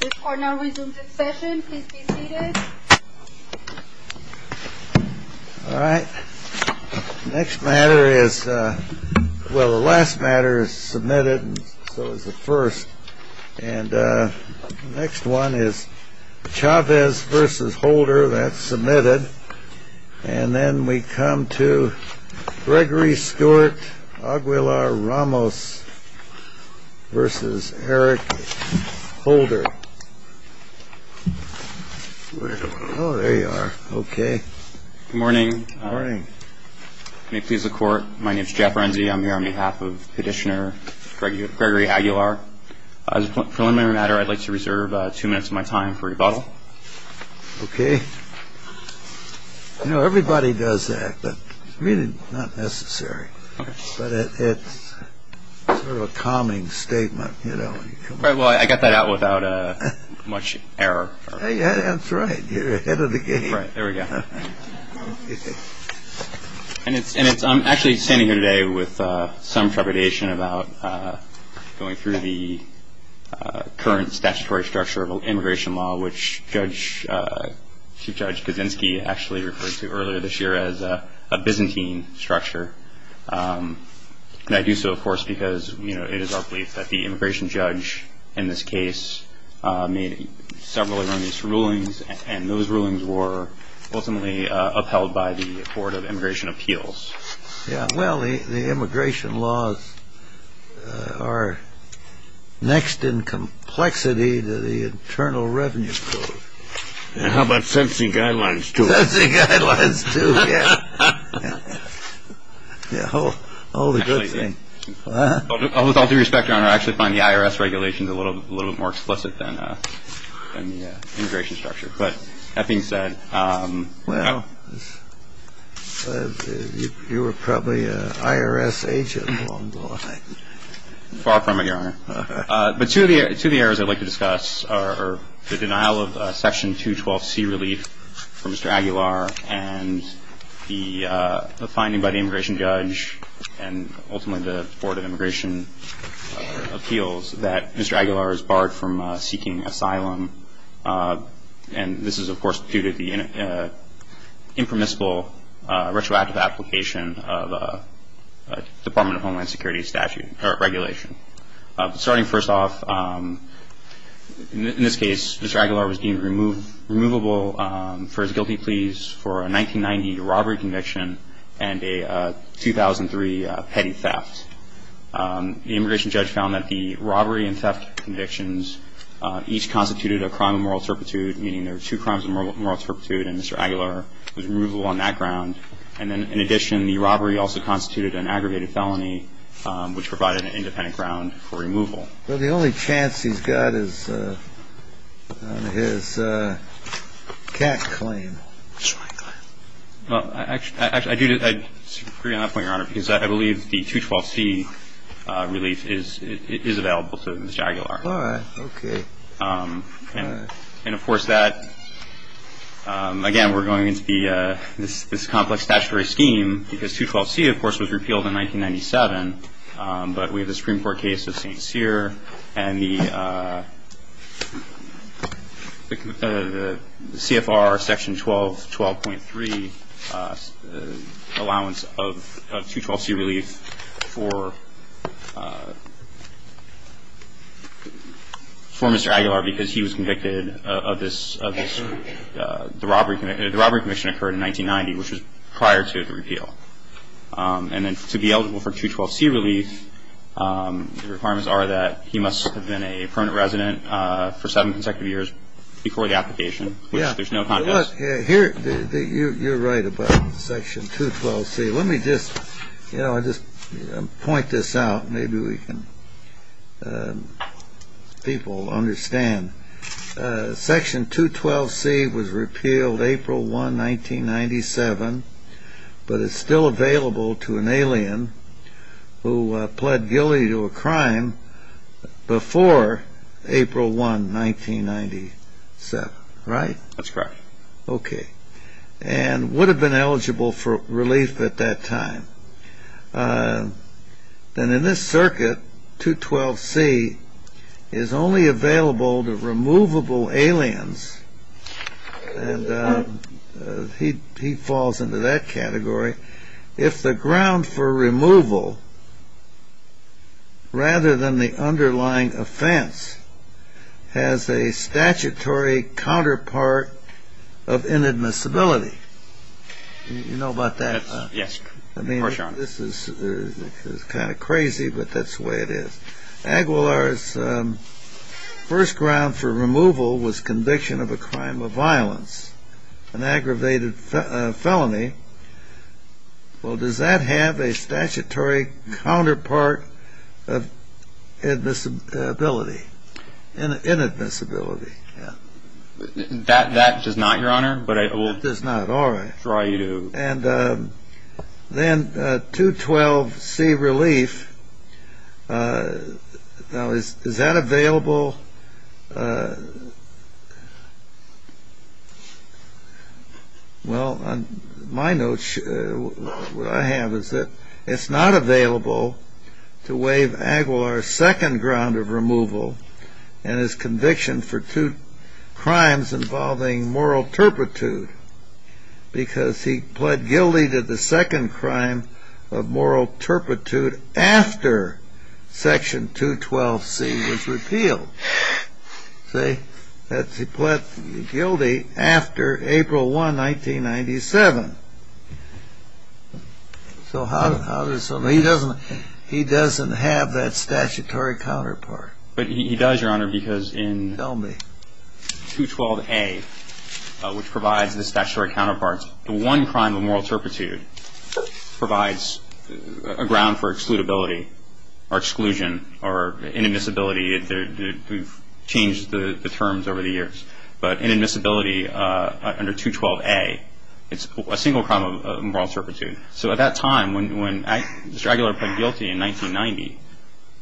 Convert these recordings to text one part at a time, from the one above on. This court now resumes its session. Please be seated. Holder. Oh, there you are. Okay. Good morning. Good morning. May it please the Court, my name is Jeff Renzi. I'm here on behalf of Petitioner Gregory Aguilar. As a preliminary matter, I'd like to reserve two minutes of my time for rebuttal. Okay. You know, everybody does that, but it's really not necessary. But it's sort of a calming statement, you know. Well, I got that out without much error. That's right. You're ahead of the game. There we go. And I'm actually standing here today with some trepidation about going through the current statutory structure of immigration law, which Chief Judge Kaczynski actually referred to earlier this year as a Byzantine structure. And I do so, of course, because, you know, it is our belief that the immigration judge in this case made several erroneous rulings, and those rulings were ultimately upheld by the Board of Immigration Appeals. Yeah, well, the immigration laws are next in complexity to the Internal Revenue Code. And how about sentencing guidelines, too? Sentencing guidelines, too, yeah. Yeah, all the good things. With all due respect, Your Honor, I actually find the IRS regulations a little bit more explicit than the immigration structure. But that being said. Well, you were probably an IRS agent along the line. Far from it, Your Honor. But two of the areas I'd like to discuss are the denial of Section 212C relief for Mr. Aguilar and the finding by the immigration judge and ultimately the Board of Immigration Appeals that Mr. Aguilar is barred from seeking asylum. And this is, of course, due to the impermissible retroactive application of a Department of Homeland Security statute regulation. Starting first off, in this case, Mr. Aguilar was deemed removable for his guilty pleas for a 1990 robbery conviction and a 2003 petty theft. The immigration judge found that the robbery and theft convictions each constituted a crime of moral turpitude, meaning there were two crimes of moral turpitude, and Mr. Aguilar was removable on that ground. And then, in addition, the robbery also constituted an aggregated felony, which provided an independent ground for removal. Well, the only chance he's got is on his cat claim. I'm not going to go into that, Your Honor, because I believe the 212C relief is available to Mr. Aguilar. All right. Okay. And, of course, that, again, we're going into this complex statutory scheme because 212C, of course, was repealed in 1997. But we have the Supreme Court case of St. Cyr and the CFR Section 12, 12.3 allowance of 212C relief for Mr. Aguilar because he was convicted of this robbery conviction. The robbery conviction occurred in 1990, which was prior to the repeal. And then to be eligible for 212C relief, the requirements are that he must have been a permanent resident for seven consecutive years before the application, which there's no contest. You're right about Section 212C. Let me just point this out. Maybe we can, people, understand. Section 212C was repealed April 1, 1997, but it's still available to an alien who pled guilty to a crime before April 1, 1997. Right? That's correct. Okay. And would have been eligible for relief at that time. Then in this circuit, 212C is only available to removable aliens, and he falls into that category, if the ground for removal, rather than the underlying offense, has a statutory counterpart of inadmissibility. You know about that? Yes, of course, Your Honor. I mean, this is kind of crazy, but that's the way it is. Aguilar's first ground for removal was conviction of a crime of violence, an aggravated felony. Well, does that have a statutory counterpart of admissibility? Inadmissibility, yeah. That does not, Your Honor. That does not. All right. That's right. And then 212C relief, now, is that available? Well, on my notes, what I have is that it's not available to waive Aguilar's second ground of removal and his conviction for two crimes involving moral turpitude, because he pled guilty to the second crime of moral turpitude after Section 212C was repealed. See? He pled guilty after April 1, 1997. So he doesn't have that statutory counterpart. But he does, Your Honor, because in 212A, which provides the statutory counterparts, the one crime of moral turpitude provides a ground for excludability or exclusion or inadmissibility. We've changed the terms over the years. But inadmissibility under 212A, it's a single crime of moral turpitude. So at that time, when Mr. Aguilar pled guilty in 1990,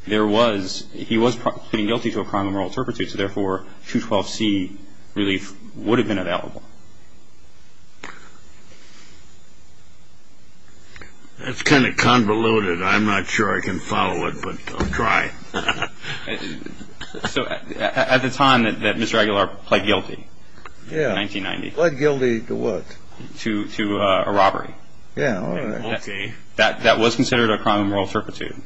there was he was pleading guilty to a crime of moral turpitude. So, therefore, 212C relief would have been available. That's kind of convoluted. I'm not sure I can follow it, but I'll try. So at the time that Mr. Aguilar pled guilty in 1990. Yeah. Pled guilty to what? To a robbery. Yeah. Okay. That was considered a crime of moral turpitude.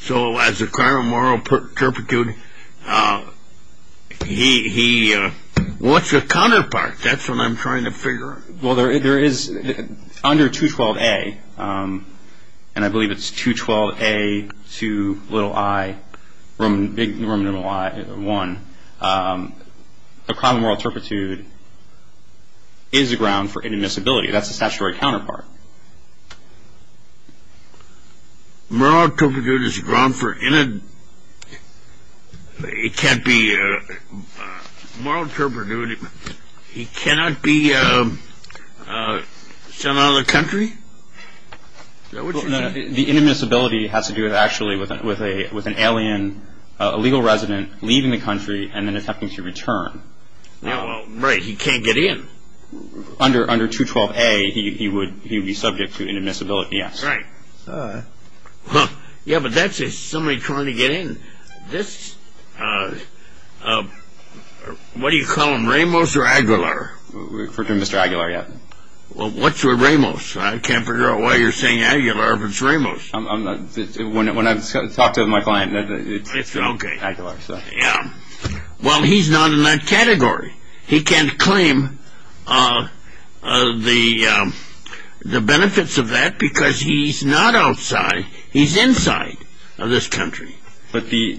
So as a crime of moral turpitude, he wants a counterpart. That's what I'm trying to figure out. Well, there is under 212A, and I believe it's 212A, 2, little I, big Roman numeral I, a crime of moral turpitude is a ground for inadmissibility. That's a statutory counterpart. Moral turpitude is a ground for inadmissibility. Moral turpitude, he cannot be sent out of the country? The inadmissibility has to do, actually, with an alien, illegal resident leaving the country and then attempting to return. Right. He can't get in. Under 212A, he would be subject to inadmissibility, yes. Right. Yeah, but that's somebody trying to get in. This, what do you call him, Ramos or Aguilar? Mr. Aguilar, yeah. Well, what's with Ramos? I can't figure out why you're saying Aguilar if it's Ramos. When I talk to my client, it's Aguilar. Yeah. Well, he's not in that category. He can't claim the benefits of that because he's not outside. He's inside of this country. But the,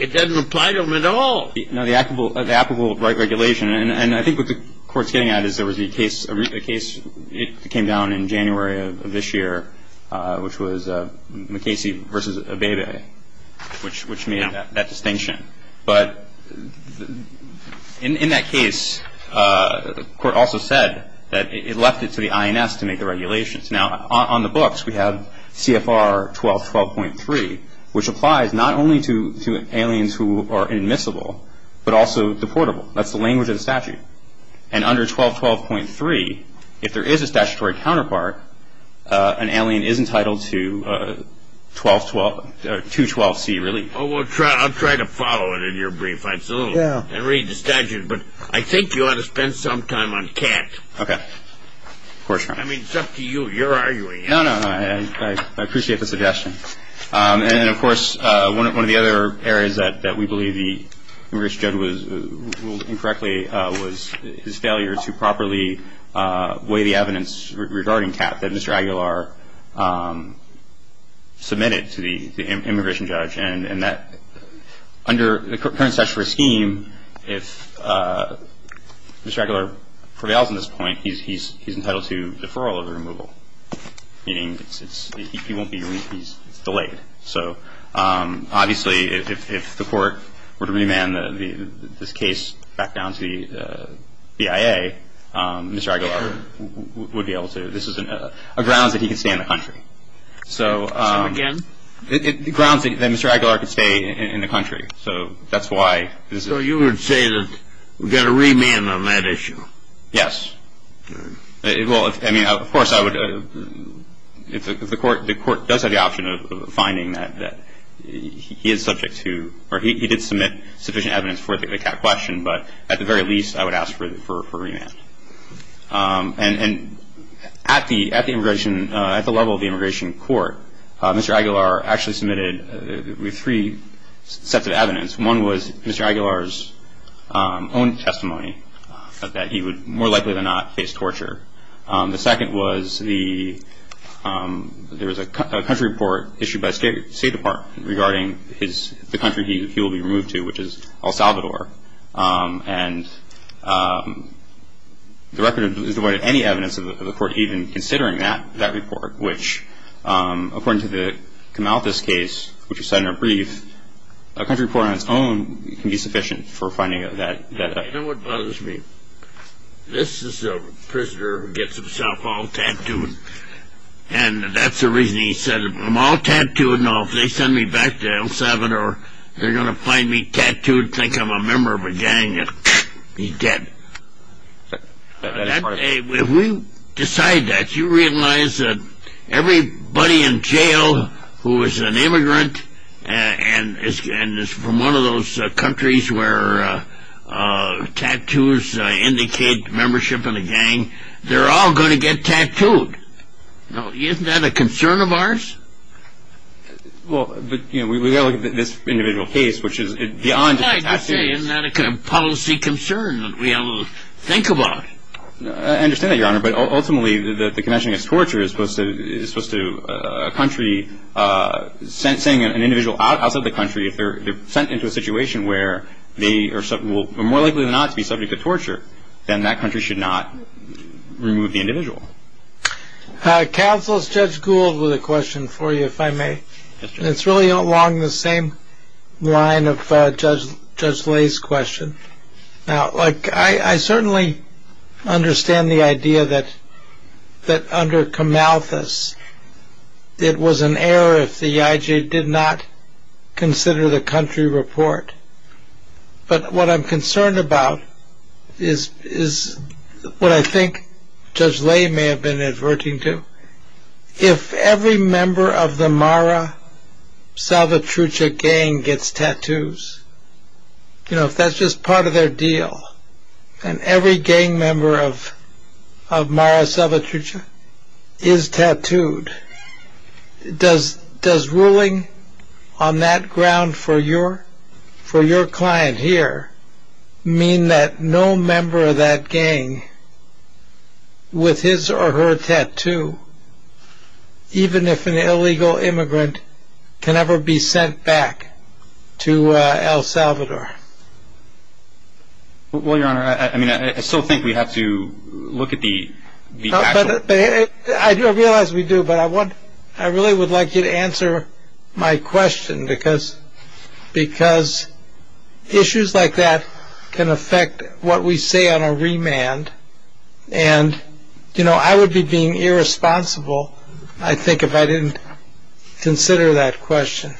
it doesn't apply to him at all. No, the applicable regulation, and I think what the Court's getting at is there was a case, it came down in January of this year, which was McKasey versus Abebe, which made that distinction. But in that case, the Court also said that it left it to the INS to make the regulations. Now, on the books, we have CFR 1212.3, which applies not only to aliens who are admissible, but also deportable. That's the language of the statute. And under 1212.3, if there is a statutory counterpart, an alien is entitled to 212C relief. Well, I'll try to follow it in your brief. I'd salute and read the statute. But I think you ought to spend some time on Katz. Okay. Of course, Your Honor. I mean, it's up to you. You're arguing. No, no, no. I appreciate the suggestion. And, of course, one of the other areas that we believe the immigration judge ruled incorrectly was his failure to properly weigh the evidence regarding Katz that Mr. Aguilar submitted to the immigration judge. And under the current statutory scheme, if Mr. Aguilar prevails in this point, he's entitled to deferral of removal, meaning he won't be released. It's delayed. So, obviously, if the Court were to remand this case back down to the BIA, Mr. Aguilar would be able to. This is a grounds that he can stay in the country. So again? It grounds that Mr. Aguilar could stay in the country. So that's why this is. So you would say that we've got to remand on that issue? Yes. Okay. Well, I mean, of course, I would, if the Court does have the option of finding that he is subject to, or he did submit sufficient evidence for the Katz question, but at the very least, I would ask for remand. And at the level of the immigration court, Mr. Aguilar actually submitted three sets of evidence. One was Mr. Aguilar's own testimony that he would more likely than not face torture. The second was there was a country report issued by the State Department regarding the country he will be removed to, which is El Salvador. And the record is devoid of any evidence of the Court even considering that report, which according to the Kamautis case, which was cited in our brief, a country report on its own can be sufficient for finding that evidence. You know what bothers me? This is a prisoner who gets himself all tattooed, and that's the reason he said, you know, if they send me back to El Salvador, they're going to find me tattooed, think I'm a member of a gang, and he's dead. If we decide that, you realize that everybody in jail who is an immigrant and is from one of those countries where tattoos indicate membership in a gang, they're all going to get tattooed. Now, isn't that a concern of ours? Well, but, you know, we've got to look at this individual case, which is beyond. I just say, isn't that a kind of policy concern that we ought to think about? I understand that, Your Honor, but ultimately the convention against torture is supposed to a country sending an individual outside the country. If they're sent into a situation where they are more likely than not to be subject to torture, then that country should not remove the individual. Counsel, Judge Gould with a question for you, if I may. It's really along the same line of Judge Lay's question. Now, I certainly understand the idea that under Camalthus, it was an error if the EIJ did not consider the country report. But what I'm concerned about is what I think Judge Lay may have been adverting to. If every member of the Mara Salvatrucha gang gets tattoos, you know, if that's just part of their deal, and every gang member of Mara Salvatrucha is tattooed, does ruling on that ground for your client here mean that no member of that gang with his or her tattoo, even if an illegal immigrant, can ever be sent back to El Salvador? Well, Your Honor, I mean, I still think we have to look at the actual... I realize we do, but I really would like you to answer my question, because issues like that can affect what we say on a remand. And, you know, I would be being irresponsible, I think, if I didn't consider that question.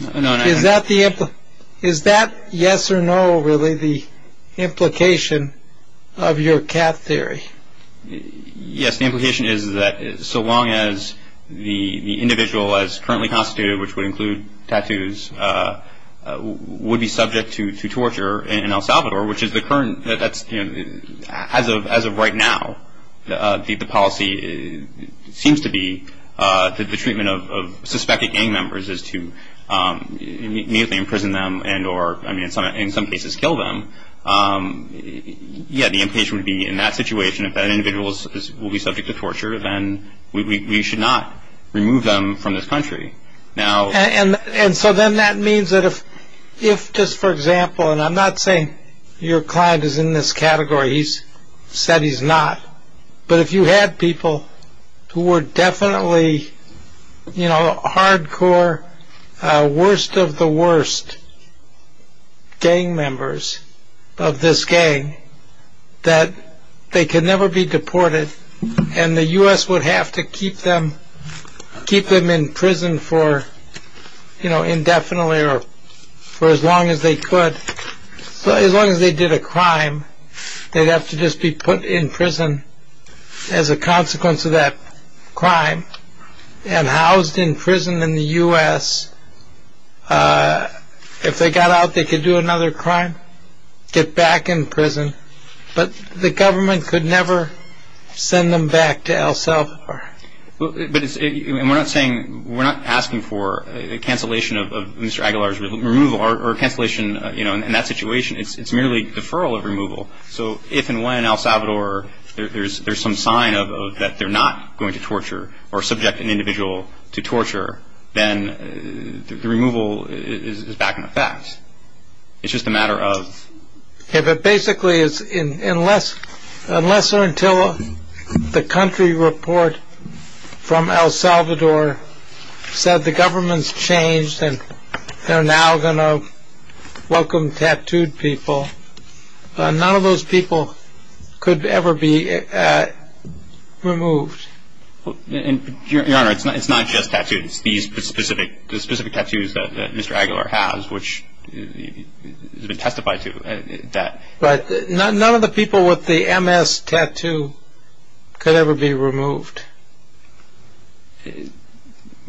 Is that yes or no, really, the implication of your cat theory? Yes, the implication is that so long as the individual as currently constituted, which would include tattoos, would be subject to torture in El Salvador, which is the current... as of right now, the policy seems to be that the treatment of suspected gang members is to immediately imprison them and or, I mean, in some cases, kill them. Yeah, the implication would be in that situation, if that individual will be subject to torture, then we should not remove them from this country. And so then that means that if, just for example, and I'm not saying your client is in this category, he's said he's not, but if you had people who were definitely, you know, of this gang, that they could never be deported and the US would have to keep them in prison for, you know, indefinitely or for as long as they could. So as long as they did a crime, they'd have to just be put in prison as a consequence of that crime and housed in prison in the US. If they got out, they could do another crime, get back in prison, but the government could never send them back to El Salvador. But we're not asking for a cancellation of Mr. Aguilar's removal or cancellation, you know, in that situation. It's merely deferral of removal. So if and when in El Salvador there's some sign of that they're not going to torture or subject an individual to torture, then the removal is back in the facts. It's just a matter of… Yeah, but basically unless or until the country report from El Salvador said the government's changed and they're now going to welcome tattooed people, none of those people could ever be removed. Your Honor, it's not just tattooed. It's the specific tattoos that Mr. Aguilar has, which has been testified to. But none of the people with the MS tattoo could ever be removed.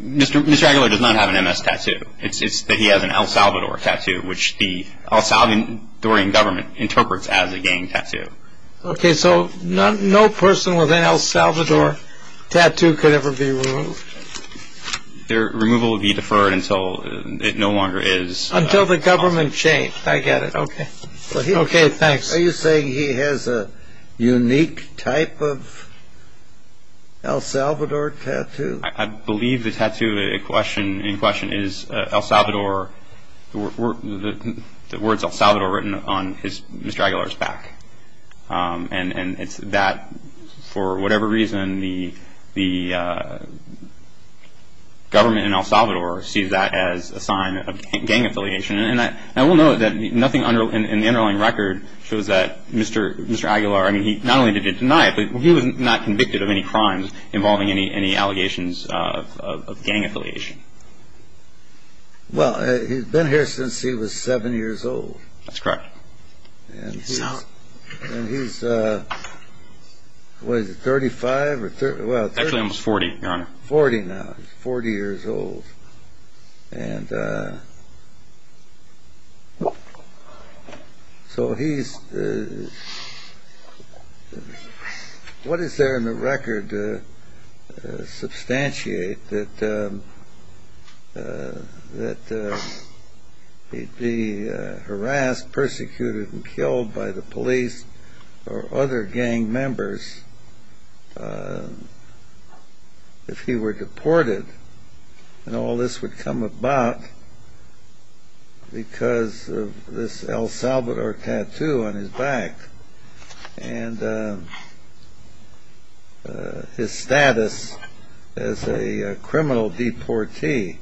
Mr. Aguilar does not have an MS tattoo. It's that he has an El Salvador tattoo, which the El Salvadorian government interprets as a gang tattoo. Okay, so no person with an El Salvador tattoo could ever be removed? Their removal would be deferred until it no longer is. Until the government changed. I get it. Okay. Okay, thanks. Are you saying he has a unique type of El Salvador tattoo? I believe the tattoo in question is the words El Salvador written on Mr. Aguilar's back. And it's that, for whatever reason, the government in El Salvador sees that as a sign of gang affiliation. And I will note that nothing in the underlying record shows that Mr. Aguilar, I mean, not only did he deny it, but he was not convicted of any crimes involving any allegations of gang affiliation. Well, he's been here since he was seven years old. That's correct. And he's, what is it, 35? Actually almost 40, Your Honor. 40 now. He's 40 years old. And so he's, what is there in the record to substantiate that he'd be harassed, persecuted and killed by the police or other gang members if he were deported? And all this would come about because of this El Salvador tattoo on his back and his status as a criminal deportee.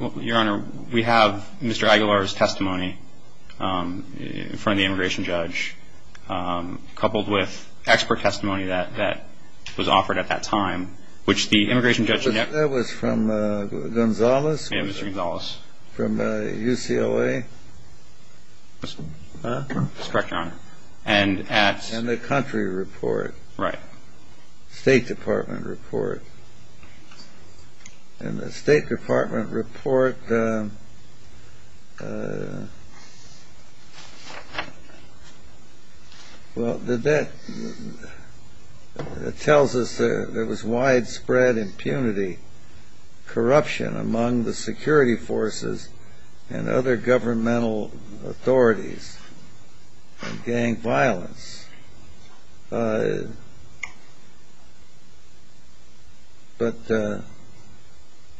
Well, Your Honor, we have Mr. Aguilar's testimony in front of the immigration judge, coupled with expert testimony that was offered at that time, which the immigration judge in- That was from Gonzales? Yeah, Mr. Gonzales. From UCOA? That's correct, Your Honor. And at- And the country report. Right. State Department report. And the State Department report, well, that tells us there was widespread impunity, corruption among the security forces and other governmental authorities, and gang violence. But does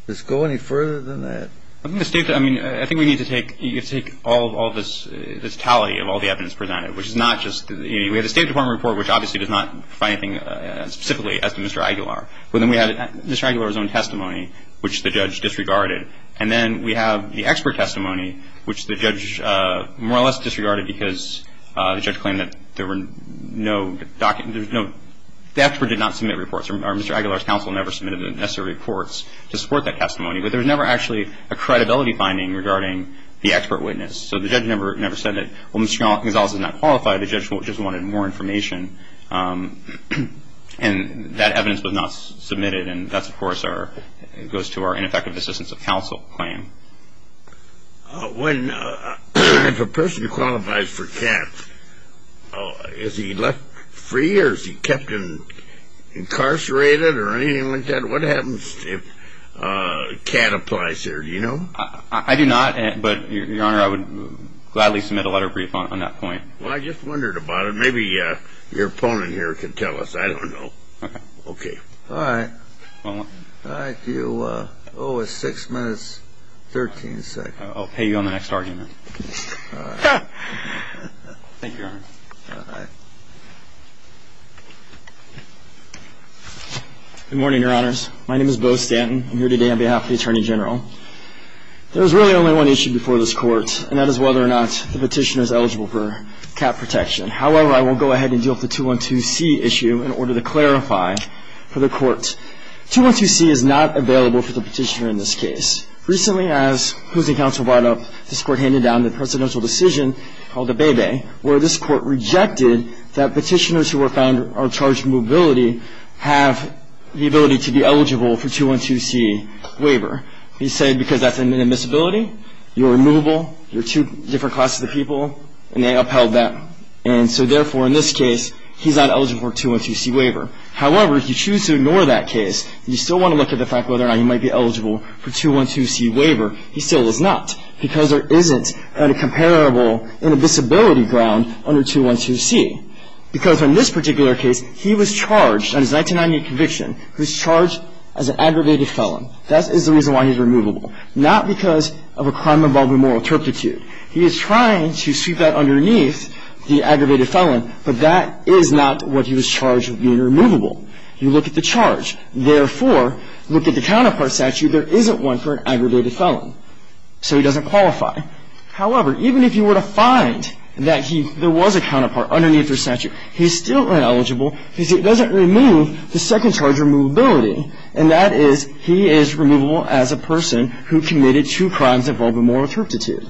it go any further than that? I mean, I think we need to take all this totality of all the evidence presented, which is not just- We have the State Department report, which obviously does not find anything specifically as to Mr. Aguilar. But then we have Mr. Aguilar's own testimony, which the judge disregarded. And then we have the expert testimony, which the judge more or less disregarded because the judge claimed that there were no- The expert did not submit reports, or Mr. Aguilar's counsel never submitted the necessary reports to support that testimony. But there was never actually a credibility finding regarding the expert witness. So the judge never said that, well, Mr. Gonzales is not qualified. The judge just wanted more information. And that evidence was not submitted. And that, of course, goes to our ineffective assistance of counsel claim. If a person qualifies for CAT, is he left free or is he kept incarcerated or anything like that? What happens if CAT applies there? Do you know? I do not. But, Your Honor, I would gladly submit a letter of brief on that point. Well, I just wondered about it. Maybe your opponent here can tell us. I don't know. Okay. All right. All right. Do you owe us six minutes, 13 seconds? I'll pay you on the next argument. All right. Thank you, Your Honor. All right. Good morning, Your Honors. My name is Bo Stanton. I'm here today on behalf of the Attorney General. There was really only one issue before this Court, and that is whether or not the petitioner is eligible for CAT protection. However, I will go ahead and deal with the 212C issue in order to clarify for the Court. 212C is not available for the petitioner in this case. Recently, as Hoosing Council brought up, this Court handed down the presidential decision called Abebe, where this Court rejected that petitioners who were found or charged with mobility have the ability to be eligible for 212C waiver. We said, because that's inadmissibility, you're removable, you're two different classes of people, and they upheld that, and so, therefore, in this case, he's not eligible for 212C waiver. However, if you choose to ignore that case, and you still want to look at the fact whether or not he might be eligible for 212C waiver, he still is not, because there isn't a comparable inadmissibility ground under 212C. Because in this particular case, he was charged on his 1990 conviction, he was charged as an aggravated felon. That is the reason why he's removable, not because of a crime involving moral turpitude. He is trying to sweep that underneath the aggravated felon, but that is not what he was charged with being removable. You look at the charge. Therefore, look at the counterpart statute. There isn't one for an aggravated felon, so he doesn't qualify. However, even if you were to find that there was a counterpart underneath their statute, he's still ineligible, because it doesn't remove the second charge of removability, and that is he is removable as a person who committed two crimes involving moral turpitude.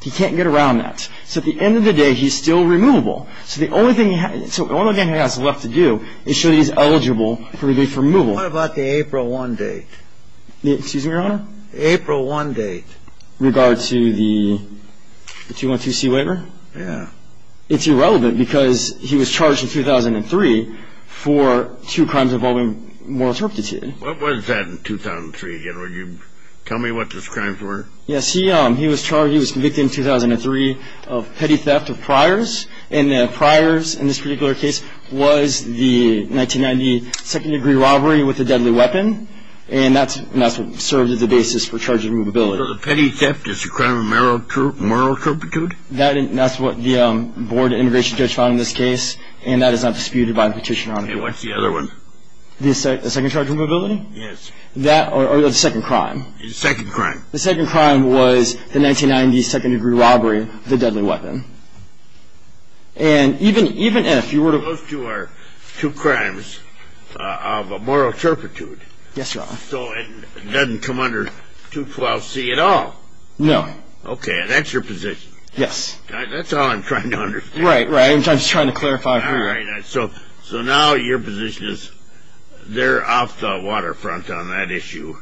He can't get around that. So at the end of the day, he's still removable. So the only thing he has left to do is show that he's eligible for relief removal. What about the April 1 date? Excuse me, Your Honor? The April 1 date. In regard to the 212C waiver? Yeah. It's irrelevant, because he was charged in 2003 for two crimes involving moral turpitude. What was that in 2003, again? Would you tell me what those crimes were? Yes, he was charged, he was convicted in 2003 of petty theft of priors, and the priors in this particular case was the 1990 second-degree robbery with a deadly weapon, and that's what served as the basis for charge of removability. So the petty theft is a crime of moral turpitude? That's what the board of intervention judge found in this case, and that is not disputed by the petitioner, Your Honor. And what's the other one? The second charge of removability? Yes. That or the second crime? The second crime. The second crime was the 1990 second-degree robbery with a deadly weapon. And even if you were to- Those two are two crimes of moral turpitude. Yes, Your Honor. So it doesn't come under 212C at all? No. Okay, and that's your position? Yes. That's all I'm trying to understand. Right, right. I'm just trying to clarify for you. All right. So now your position is they're off the waterfront on that issue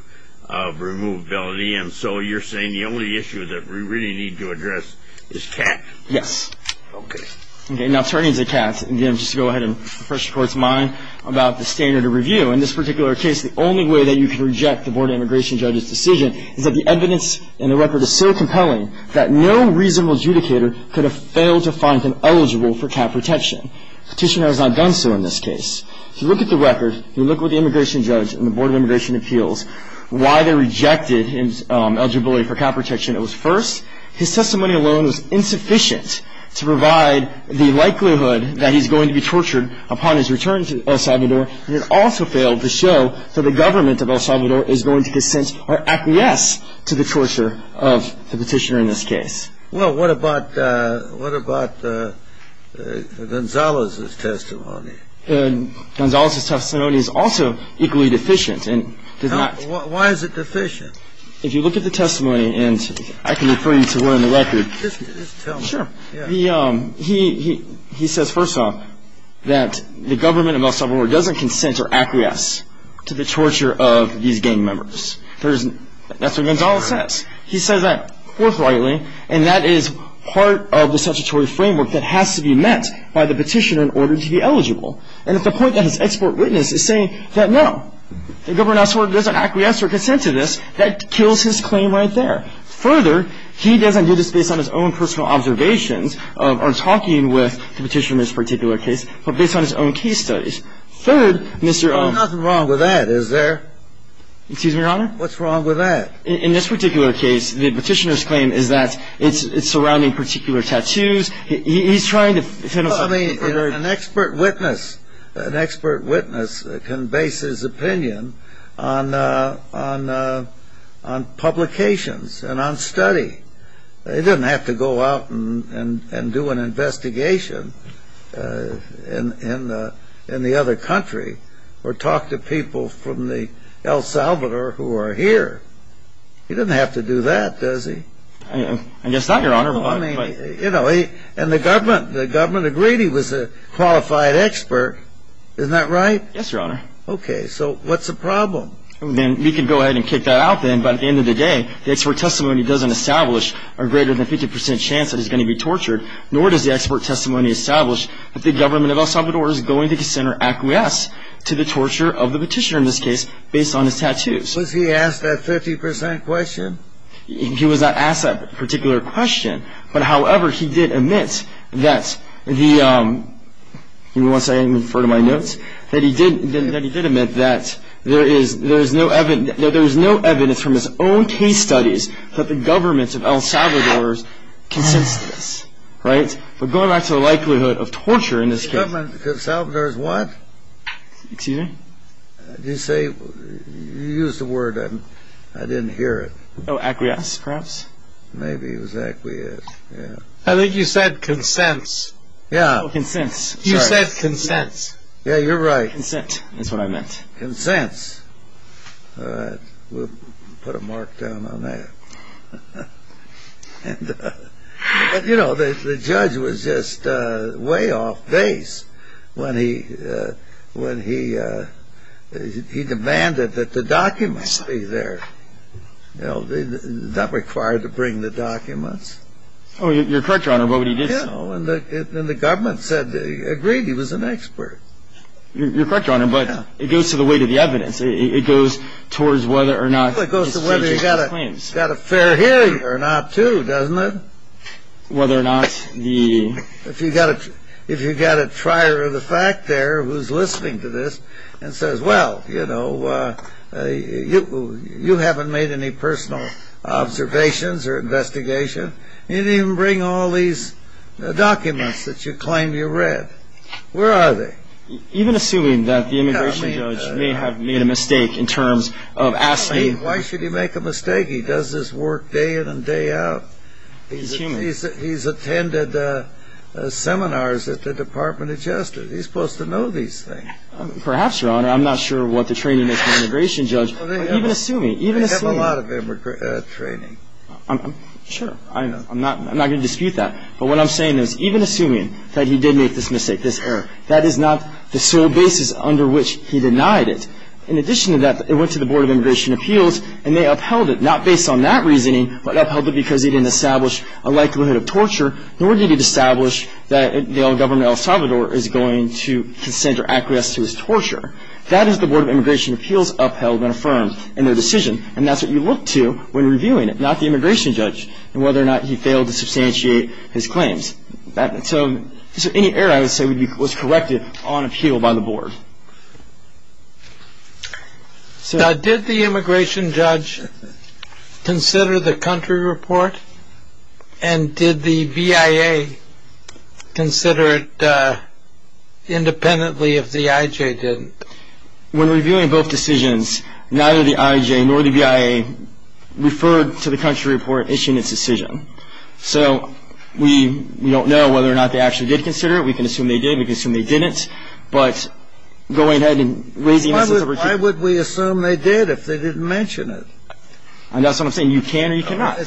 of removability, and so you're saying the only issue that we really need to address is Katz? Yes. Okay. Now turning to Katz, again, just to go ahead and refresh the Court's mind about the standard of review. In this particular case, the only way that you can reject the board of integration judge's decision is that the evidence in the record is so compelling that no reasonable adjudicator could have failed to find him eligible for cap protection. Petitioner has not done so in this case. If you look at the record, if you look with the immigration judge and the board of immigration appeals, why they rejected his eligibility for cap protection, it was first, his testimony alone was insufficient to provide the likelihood that he's going to be tortured upon his return to El Salvador, and it also failed to show that the government of El Salvador is going to consent or acquiesce to the torture of the petitioner in this case. Well, what about Gonzalo's testimony? Gonzalo's testimony is also equally deficient. Why is it deficient? If you look at the testimony, and I can refer you to where in the record. Just tell me. Sure. He says, first off, that the government of El Salvador doesn't consent or acquiesce to the torture of these gang members. That's what Gonzalo says. He says that forthrightly, and that is part of the statutory framework that has to be met by the petitioner in order to be eligible. And at the point that his export witness is saying that no, the government of El Salvador doesn't acquiesce or consent to this, that kills his claim right there. He says that, further, he doesn't do this based on his own personal observations or talking with the petitioner in this particular case, but based on his own case studies. Third, Mr. — There's nothing wrong with that, is there? Excuse me, Your Honor? What's wrong with that? In this particular case, the petitioner's claim is that it's surrounding particular tattoos. He's trying to — An expert witness can base his opinion on publications and on study. He doesn't have to go out and do an investigation in the other country or talk to people from El Salvador who are here. He doesn't have to do that, does he? I guess not, Your Honor. And the government agreed he was a qualified expert. Isn't that right? Yes, Your Honor. Okay. So what's the problem? We can go ahead and kick that out then. But at the end of the day, the expert testimony doesn't establish a greater than 50 percent chance that he's going to be tortured, nor does the expert testimony establish that the government of El Salvador is going to consent or acquiesce to the torture of the petitioner in this case based on his tattoos. Was he asked that 50 percent question? He was not asked that particular question. But, however, he did admit that the — you want to say I didn't refer to my notes? That he did admit that there is no evidence from his own case studies that the government of El Salvador consents to this. Right? But going back to the likelihood of torture in this case — The government of El Salvador is what? Excuse me? Did you say — you used a word and I didn't hear it. Oh, acquiesce, perhaps? Maybe it was acquiesce, yeah. I think you said consents. Yeah. Consents. You said consents. Yeah, you're right. Consent is what I meant. Consents. All right. We'll put a mark down on that. And, you know, the judge was just way off base when he — when he — he demanded that the documents be there. You know, not required to bring the documents. Oh, you're correct, Your Honor, but he did so. Yeah, and the government said — agreed he was an expert. You're correct, Your Honor, but it goes to the weight of the evidence. It goes towards whether or not — Well, it goes to whether you've got a fair hearing or not, too, doesn't it? Whether or not the — If you've got a trier of the fact there who's listening to this and says, well, you know, you haven't made any personal observations or investigation, you didn't even bring all these documents that you claimed you read. Where are they? Even assuming that the immigration judge may have made a mistake in terms of asking — I mean, why should he make a mistake? He does this work day in and day out. He's human. He's attended seminars at the Department of Justice. He's supposed to know these things. Perhaps, Your Honor. I'm not sure what the training of the immigration judge — Well, they have a lot of training. Sure. I'm not going to dispute that. But what I'm saying is even assuming that he did make this mistake, this error, that is not the sole basis under which he denied it. In addition to that, it went to the Board of Immigration Appeals, and they upheld it, not based on that reasoning, but upheld it because he didn't establish a likelihood of torture, nor did he establish that the government of El Salvador is going to consent or acquiesce to his torture. That is the Board of Immigration Appeals upheld and affirmed in their decision, and that's what you look to when reviewing it, not the immigration judge, and whether or not he failed to substantiate his claims. So any error, I would say, was corrected on appeal by the Board. Now, did the immigration judge consider the country report, and did the VIA consider it independently if the IJ didn't? When reviewing both decisions, neither the IJ nor the VIA referred to the country report issued in its decision. So we don't know whether or not they actually did consider it. We can assume they did. We can assume they didn't. But going ahead and raising the issue. Why would we assume they did if they didn't mention it? And that's what I'm saying. You can or you cannot.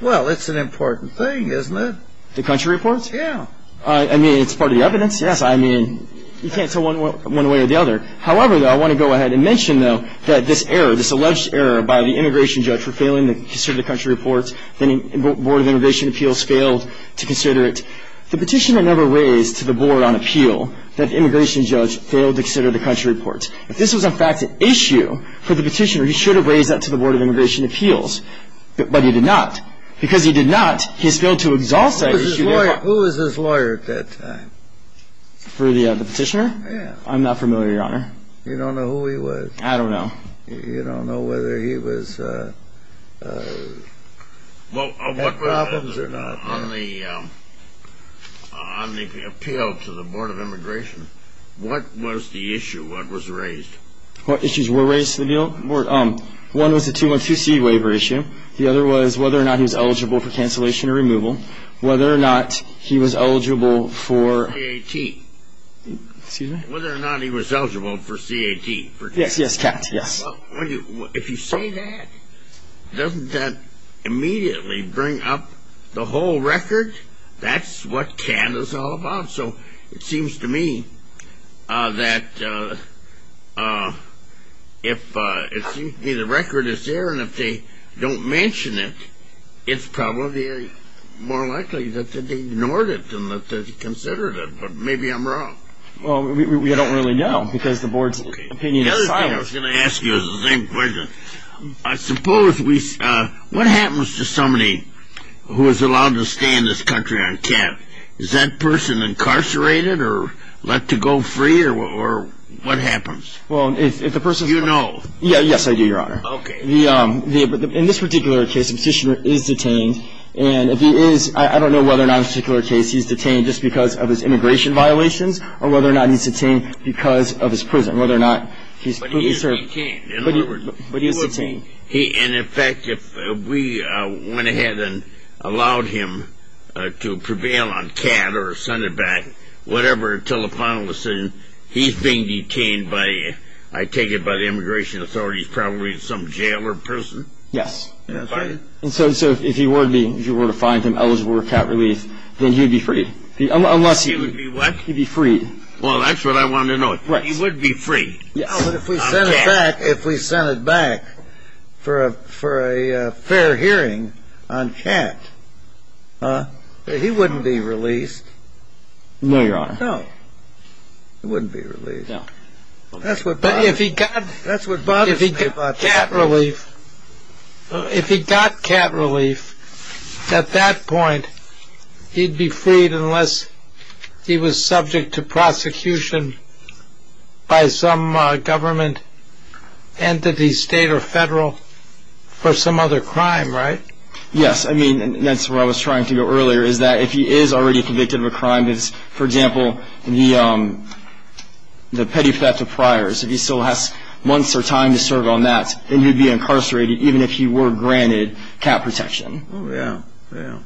Well, it's an important thing, isn't it? The country report? Yeah. I mean, it's part of the evidence. Yes, I mean, you can't tell one way or the other. However, though, I want to go ahead and mention, though, that this error, this alleged error by the immigration judge for failing to consider the country report, the Board of Immigration Appeals failed to consider it. The petitioner never raised to the Board on appeal that the immigration judge failed to consider the country report. If this was, in fact, an issue for the petitioner, he should have raised that to the Board of Immigration Appeals. But he did not. Because he did not, he has failed to exalt that issue. Who was his lawyer at that time? For the petitioner? Yeah. I'm not familiar, Your Honor. You don't know who he was? I don't know. You don't know whether he had problems or not? On the appeal to the Board of Immigration, what was the issue? What was raised? What issues were raised to the Board? One was the 212C waiver issue. The other was whether or not he was eligible for cancellation or removal, whether or not he was eligible for KAT. Excuse me? Whether or not he was eligible for CAT. Yes, yes, Captain, yes. If you say that, doesn't that immediately bring up the whole record? That's what CAT is all about. So it seems to me that if the record is there and if they don't mention it, it's probably more likely that they ignored it than that they considered it. Maybe I'm wrong. Well, we don't really know because the Board's opinion is silent. The other thing I was going to ask you is the same question. I suppose what happens to somebody who is allowed to stay in this country on CAT? Is that person incarcerated or let to go free, or what happens? You know. Yes, I do, Your Honor. Okay. In this particular case, the petitioner is detained, and if he is, I don't know whether or not in this particular case he's detained just because of his immigration violations or whether or not he's detained because of his prison, whether or not he's fully served. But he is detained. But he is detained. And, in fact, if we went ahead and allowed him to prevail on CAT or a Sunderbank, whatever telefinal decision, he's being detained by, I take it by the immigration authorities, probably some jail or prison? Yes. And so if you were to find him eligible for CAT relief, then he would be freed. He would be what? He would be freed. Well, that's what I wanted to know. He would be freed. Yes. But if we sent it back for a fair hearing on CAT, he wouldn't be released. No, Your Honor. No. He wouldn't be released. No. That's what bothers me about CAT relief. If he got CAT relief, at that point he'd be freed unless he was subject to prosecution by some government entity, state or federal, for some other crime, right? Yes. I mean, that's where I was trying to go earlier, is that if he is already convicted of a crime, for example, the petty theft of priors, if he still has months or time to serve on that, then he'd be incarcerated even if he were granted CAT protection. Oh, yeah. Yeah.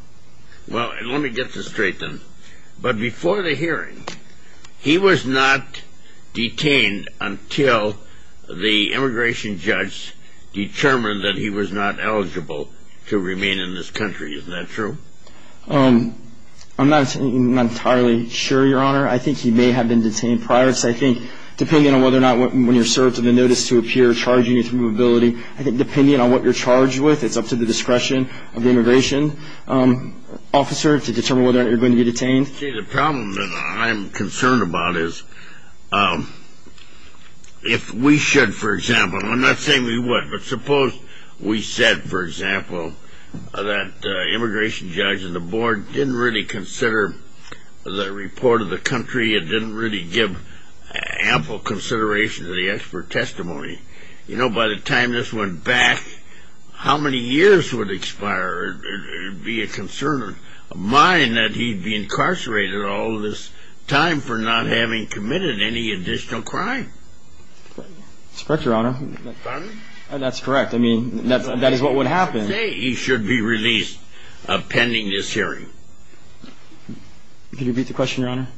Well, let me get this straight then. But before the hearing, he was not detained until the immigration judge determined that he was not eligible to remain in this country. Isn't that true? I'm not entirely sure, Your Honor. I think he may have been detained prior. I think depending on what you're charged with, it's up to the discretion of the immigration officer to determine whether or not you're going to be detained. See, the problem that I'm concerned about is if we should, for example, I'm not saying we would, but suppose we said, for example, that the immigration judge and the board didn't really consider the report of the country, it didn't really give ample consideration to the expert testimony. You know, by the time this went back, how many years would expire? It would be a concern of mine that he'd be incarcerated all this time for not having committed any additional crime. That's correct, Your Honor. Pardon? That's correct. I mean, that is what would happen. He should be released pending this hearing. Can you repeat the question, Your Honor?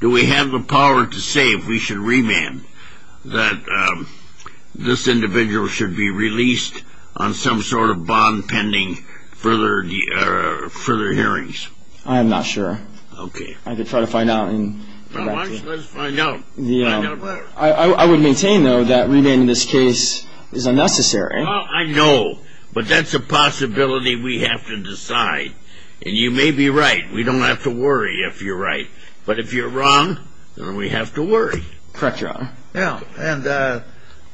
Do we have the power to say if we should remand that this individual should be released on some sort of bond pending further hearings? I am not sure. Okay. I could try to find out. Why don't you just find out? I would maintain, though, that remanding this case is unnecessary. Well, I know. But that's a possibility we have to decide. And you may be right. We don't have to worry if you're right. But if you're wrong, then we have to worry. Correct, Your Honor. Yeah.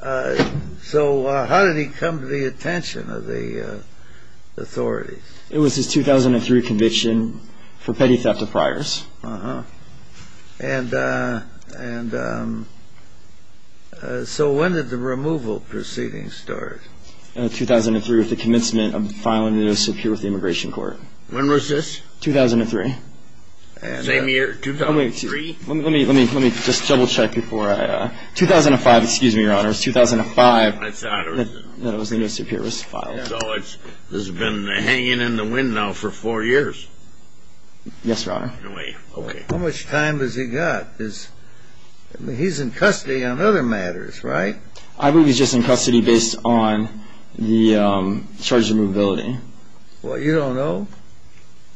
And so how did he come to the attention of the authorities? It was his 2003 conviction for petty theft of priors. Uh-huh. And so when did the removal proceedings start? In 2003 with the commencement of the filing of the notice of appeal with the Immigration Court. When was this? 2003. Same year, 2003? Let me just double-check before I ---- 2005, excuse me, Your Honor. It was 2005 that it was the notice of appeal was filed. Yes, Your Honor. How much time does he got? He's in custody on other matters, right? I believe he's just in custody based on the charge of removability. What, you don't know?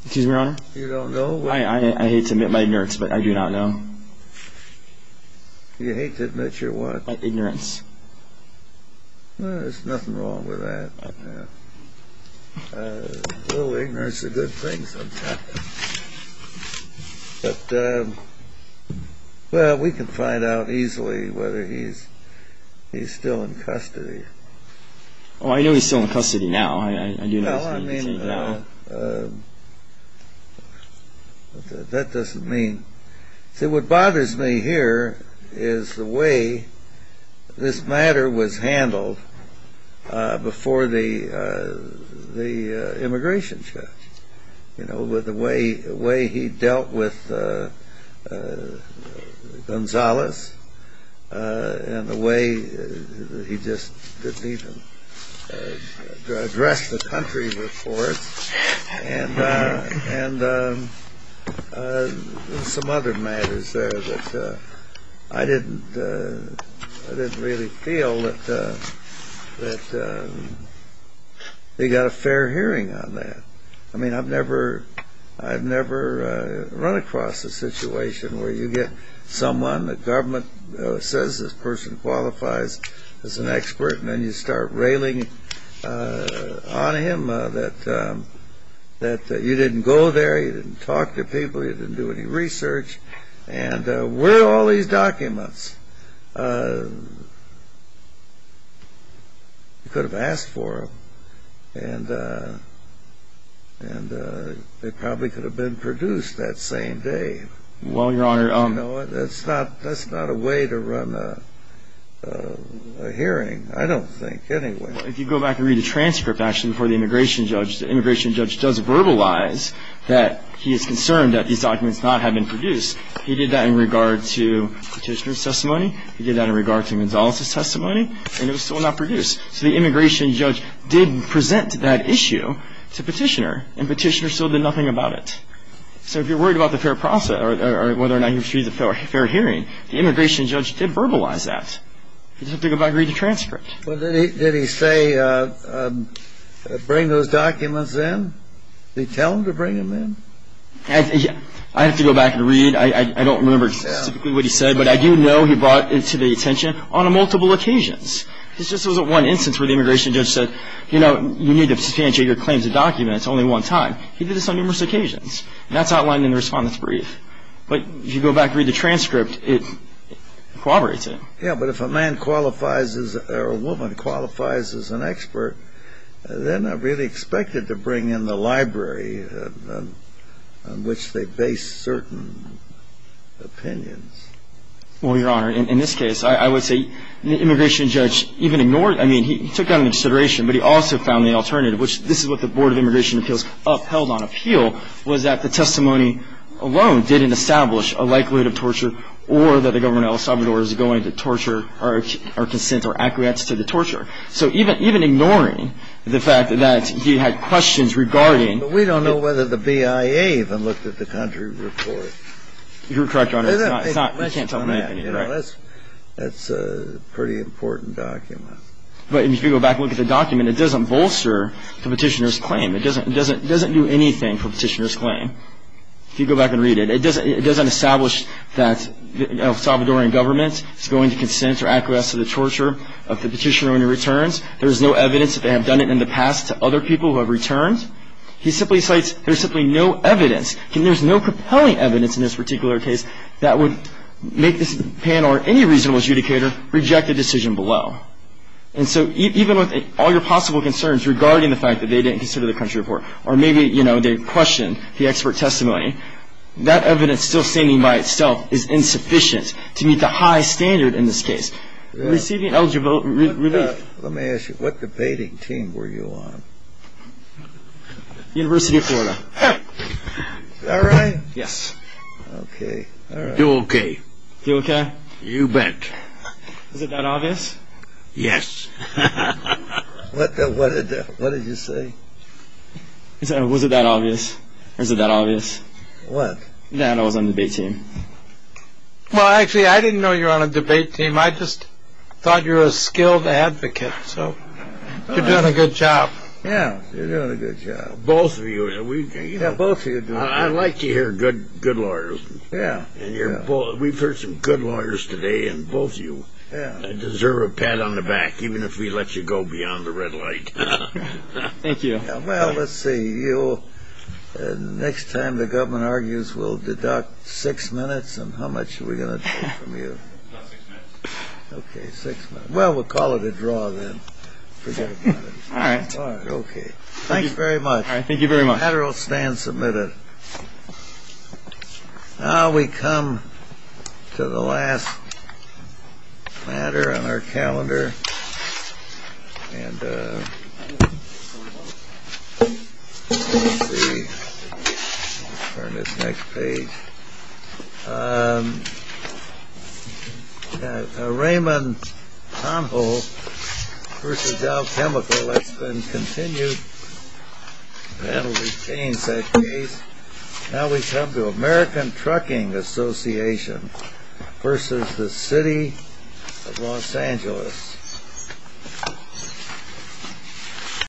Excuse me, Your Honor? You don't know? I hate to admit my ignorance, but I do not know. You hate to admit your what? My ignorance. There's nothing wrong with that. A little ignorance is a good thing sometimes. But, well, we can find out easily whether he's still in custody. Oh, I know he's still in custody now. I do know he's in custody now. Well, I mean, that doesn't mean ---- See, what bothers me here is the way this matter was handled before the immigration judge, you know, with the way he dealt with Gonzales and the way he just didn't even address the country reports and some other matters there that I didn't really feel that they got a fair hearing on that. I mean, I've never run across a situation where you get someone, the government says this person qualifies as an expert, and then you start railing on him that you didn't go there, you didn't talk to people, you didn't do any research, and where are all these documents? You could have asked for them, and they probably could have been produced that same day. You know, that's not a way to run a hearing, I don't think, anyway. Well, if you go back and read the transcript, actually, before the immigration judge, the immigration judge does verbalize that he is concerned that these documents not have been produced. He did that in regard to Petitioner's testimony. He did that in regard to Gonzales' testimony, and it was still not produced. So the immigration judge did present that issue to Petitioner, and Petitioner still did nothing about it. So if you're worried about the fair process or whether or not you received a fair hearing, the immigration judge did verbalize that. You just have to go back and read the transcript. Well, did he say bring those documents in? Did he tell them to bring them in? I have to go back and read. I don't remember specifically what he said, but I do know he brought it to the attention on multiple occasions. This just wasn't one instance where the immigration judge said, you know, you need to substantiate your claims of documents only one time. He did this on numerous occasions, and that's outlined in the Respondent's Brief. But if you go back and read the transcript, it corroborates it. Yeah, but if a man qualifies as or a woman qualifies as an expert, they're not really expected to bring in the library on which they base certain opinions. Well, Your Honor, in this case, I would say the immigration judge even ignored it. I mean, he took that into consideration, but he also found the alternative, which this is what the Board of Immigration Appeals upheld on appeal, was that the testimony alone didn't establish a likelihood of torture or that the government of El Salvador is going to torture or consent or acquiesce to the torture. So even ignoring the fact that he had questions regarding the – But we don't know whether the BIA even looked at the country report. You're correct, Your Honor. It's not – we can't tell them anything. That's a pretty important document. But if you go back and look at the document, it doesn't bolster the petitioner's claim. It doesn't do anything for the petitioner's claim. If you go back and read it, it doesn't establish that the El Salvadorian government is going to consent or acquiesce to the torture of the petitioner when he returns. There is no evidence that they have done it in the past to other people who have returned. He simply cites there's simply no evidence, and there's no compelling evidence in this particular case that would make this panel or any reasonable adjudicator reject a decision below. And so even with all your possible concerns regarding the fact that they didn't consider the country report or maybe, you know, they questioned the expert testimony, that evidence still standing by itself is insufficient to meet the high standard in this case. Receiving eligible relief. Let me ask you, what debating team were you on? University of Florida. Is that right? Yes. Okay. Do okay. Do okay? You bet. Is it that obvious? Yes. What did you say? Was it that obvious? What? That I was on the debate team. Well, actually, I didn't know you were on a debate team. I just thought you were a skilled advocate, so you're doing a good job. Yeah, you're doing a good job. Both of you. I like to hear good lawyers. Yeah. We've heard some good lawyers today, and both of you deserve a pat on the back, even if we let you go beyond the red light. Thank you. Well, let's see. Next time the government argues, we'll deduct six minutes. And how much are we going to deduct from you? About six minutes. Okay, six minutes. Well, we'll call it a draw then. Forget about it. All right. Okay. Thanks very much. Thank you very much. The matter will stand submitted. Now we come to the last matter on our calendar. And let's see. Turn this next page. Raymond Honho versus Dow Chemical. Let's then continue. That will retain that case. Now we come to American Trucking Association versus the City of Los Angeles.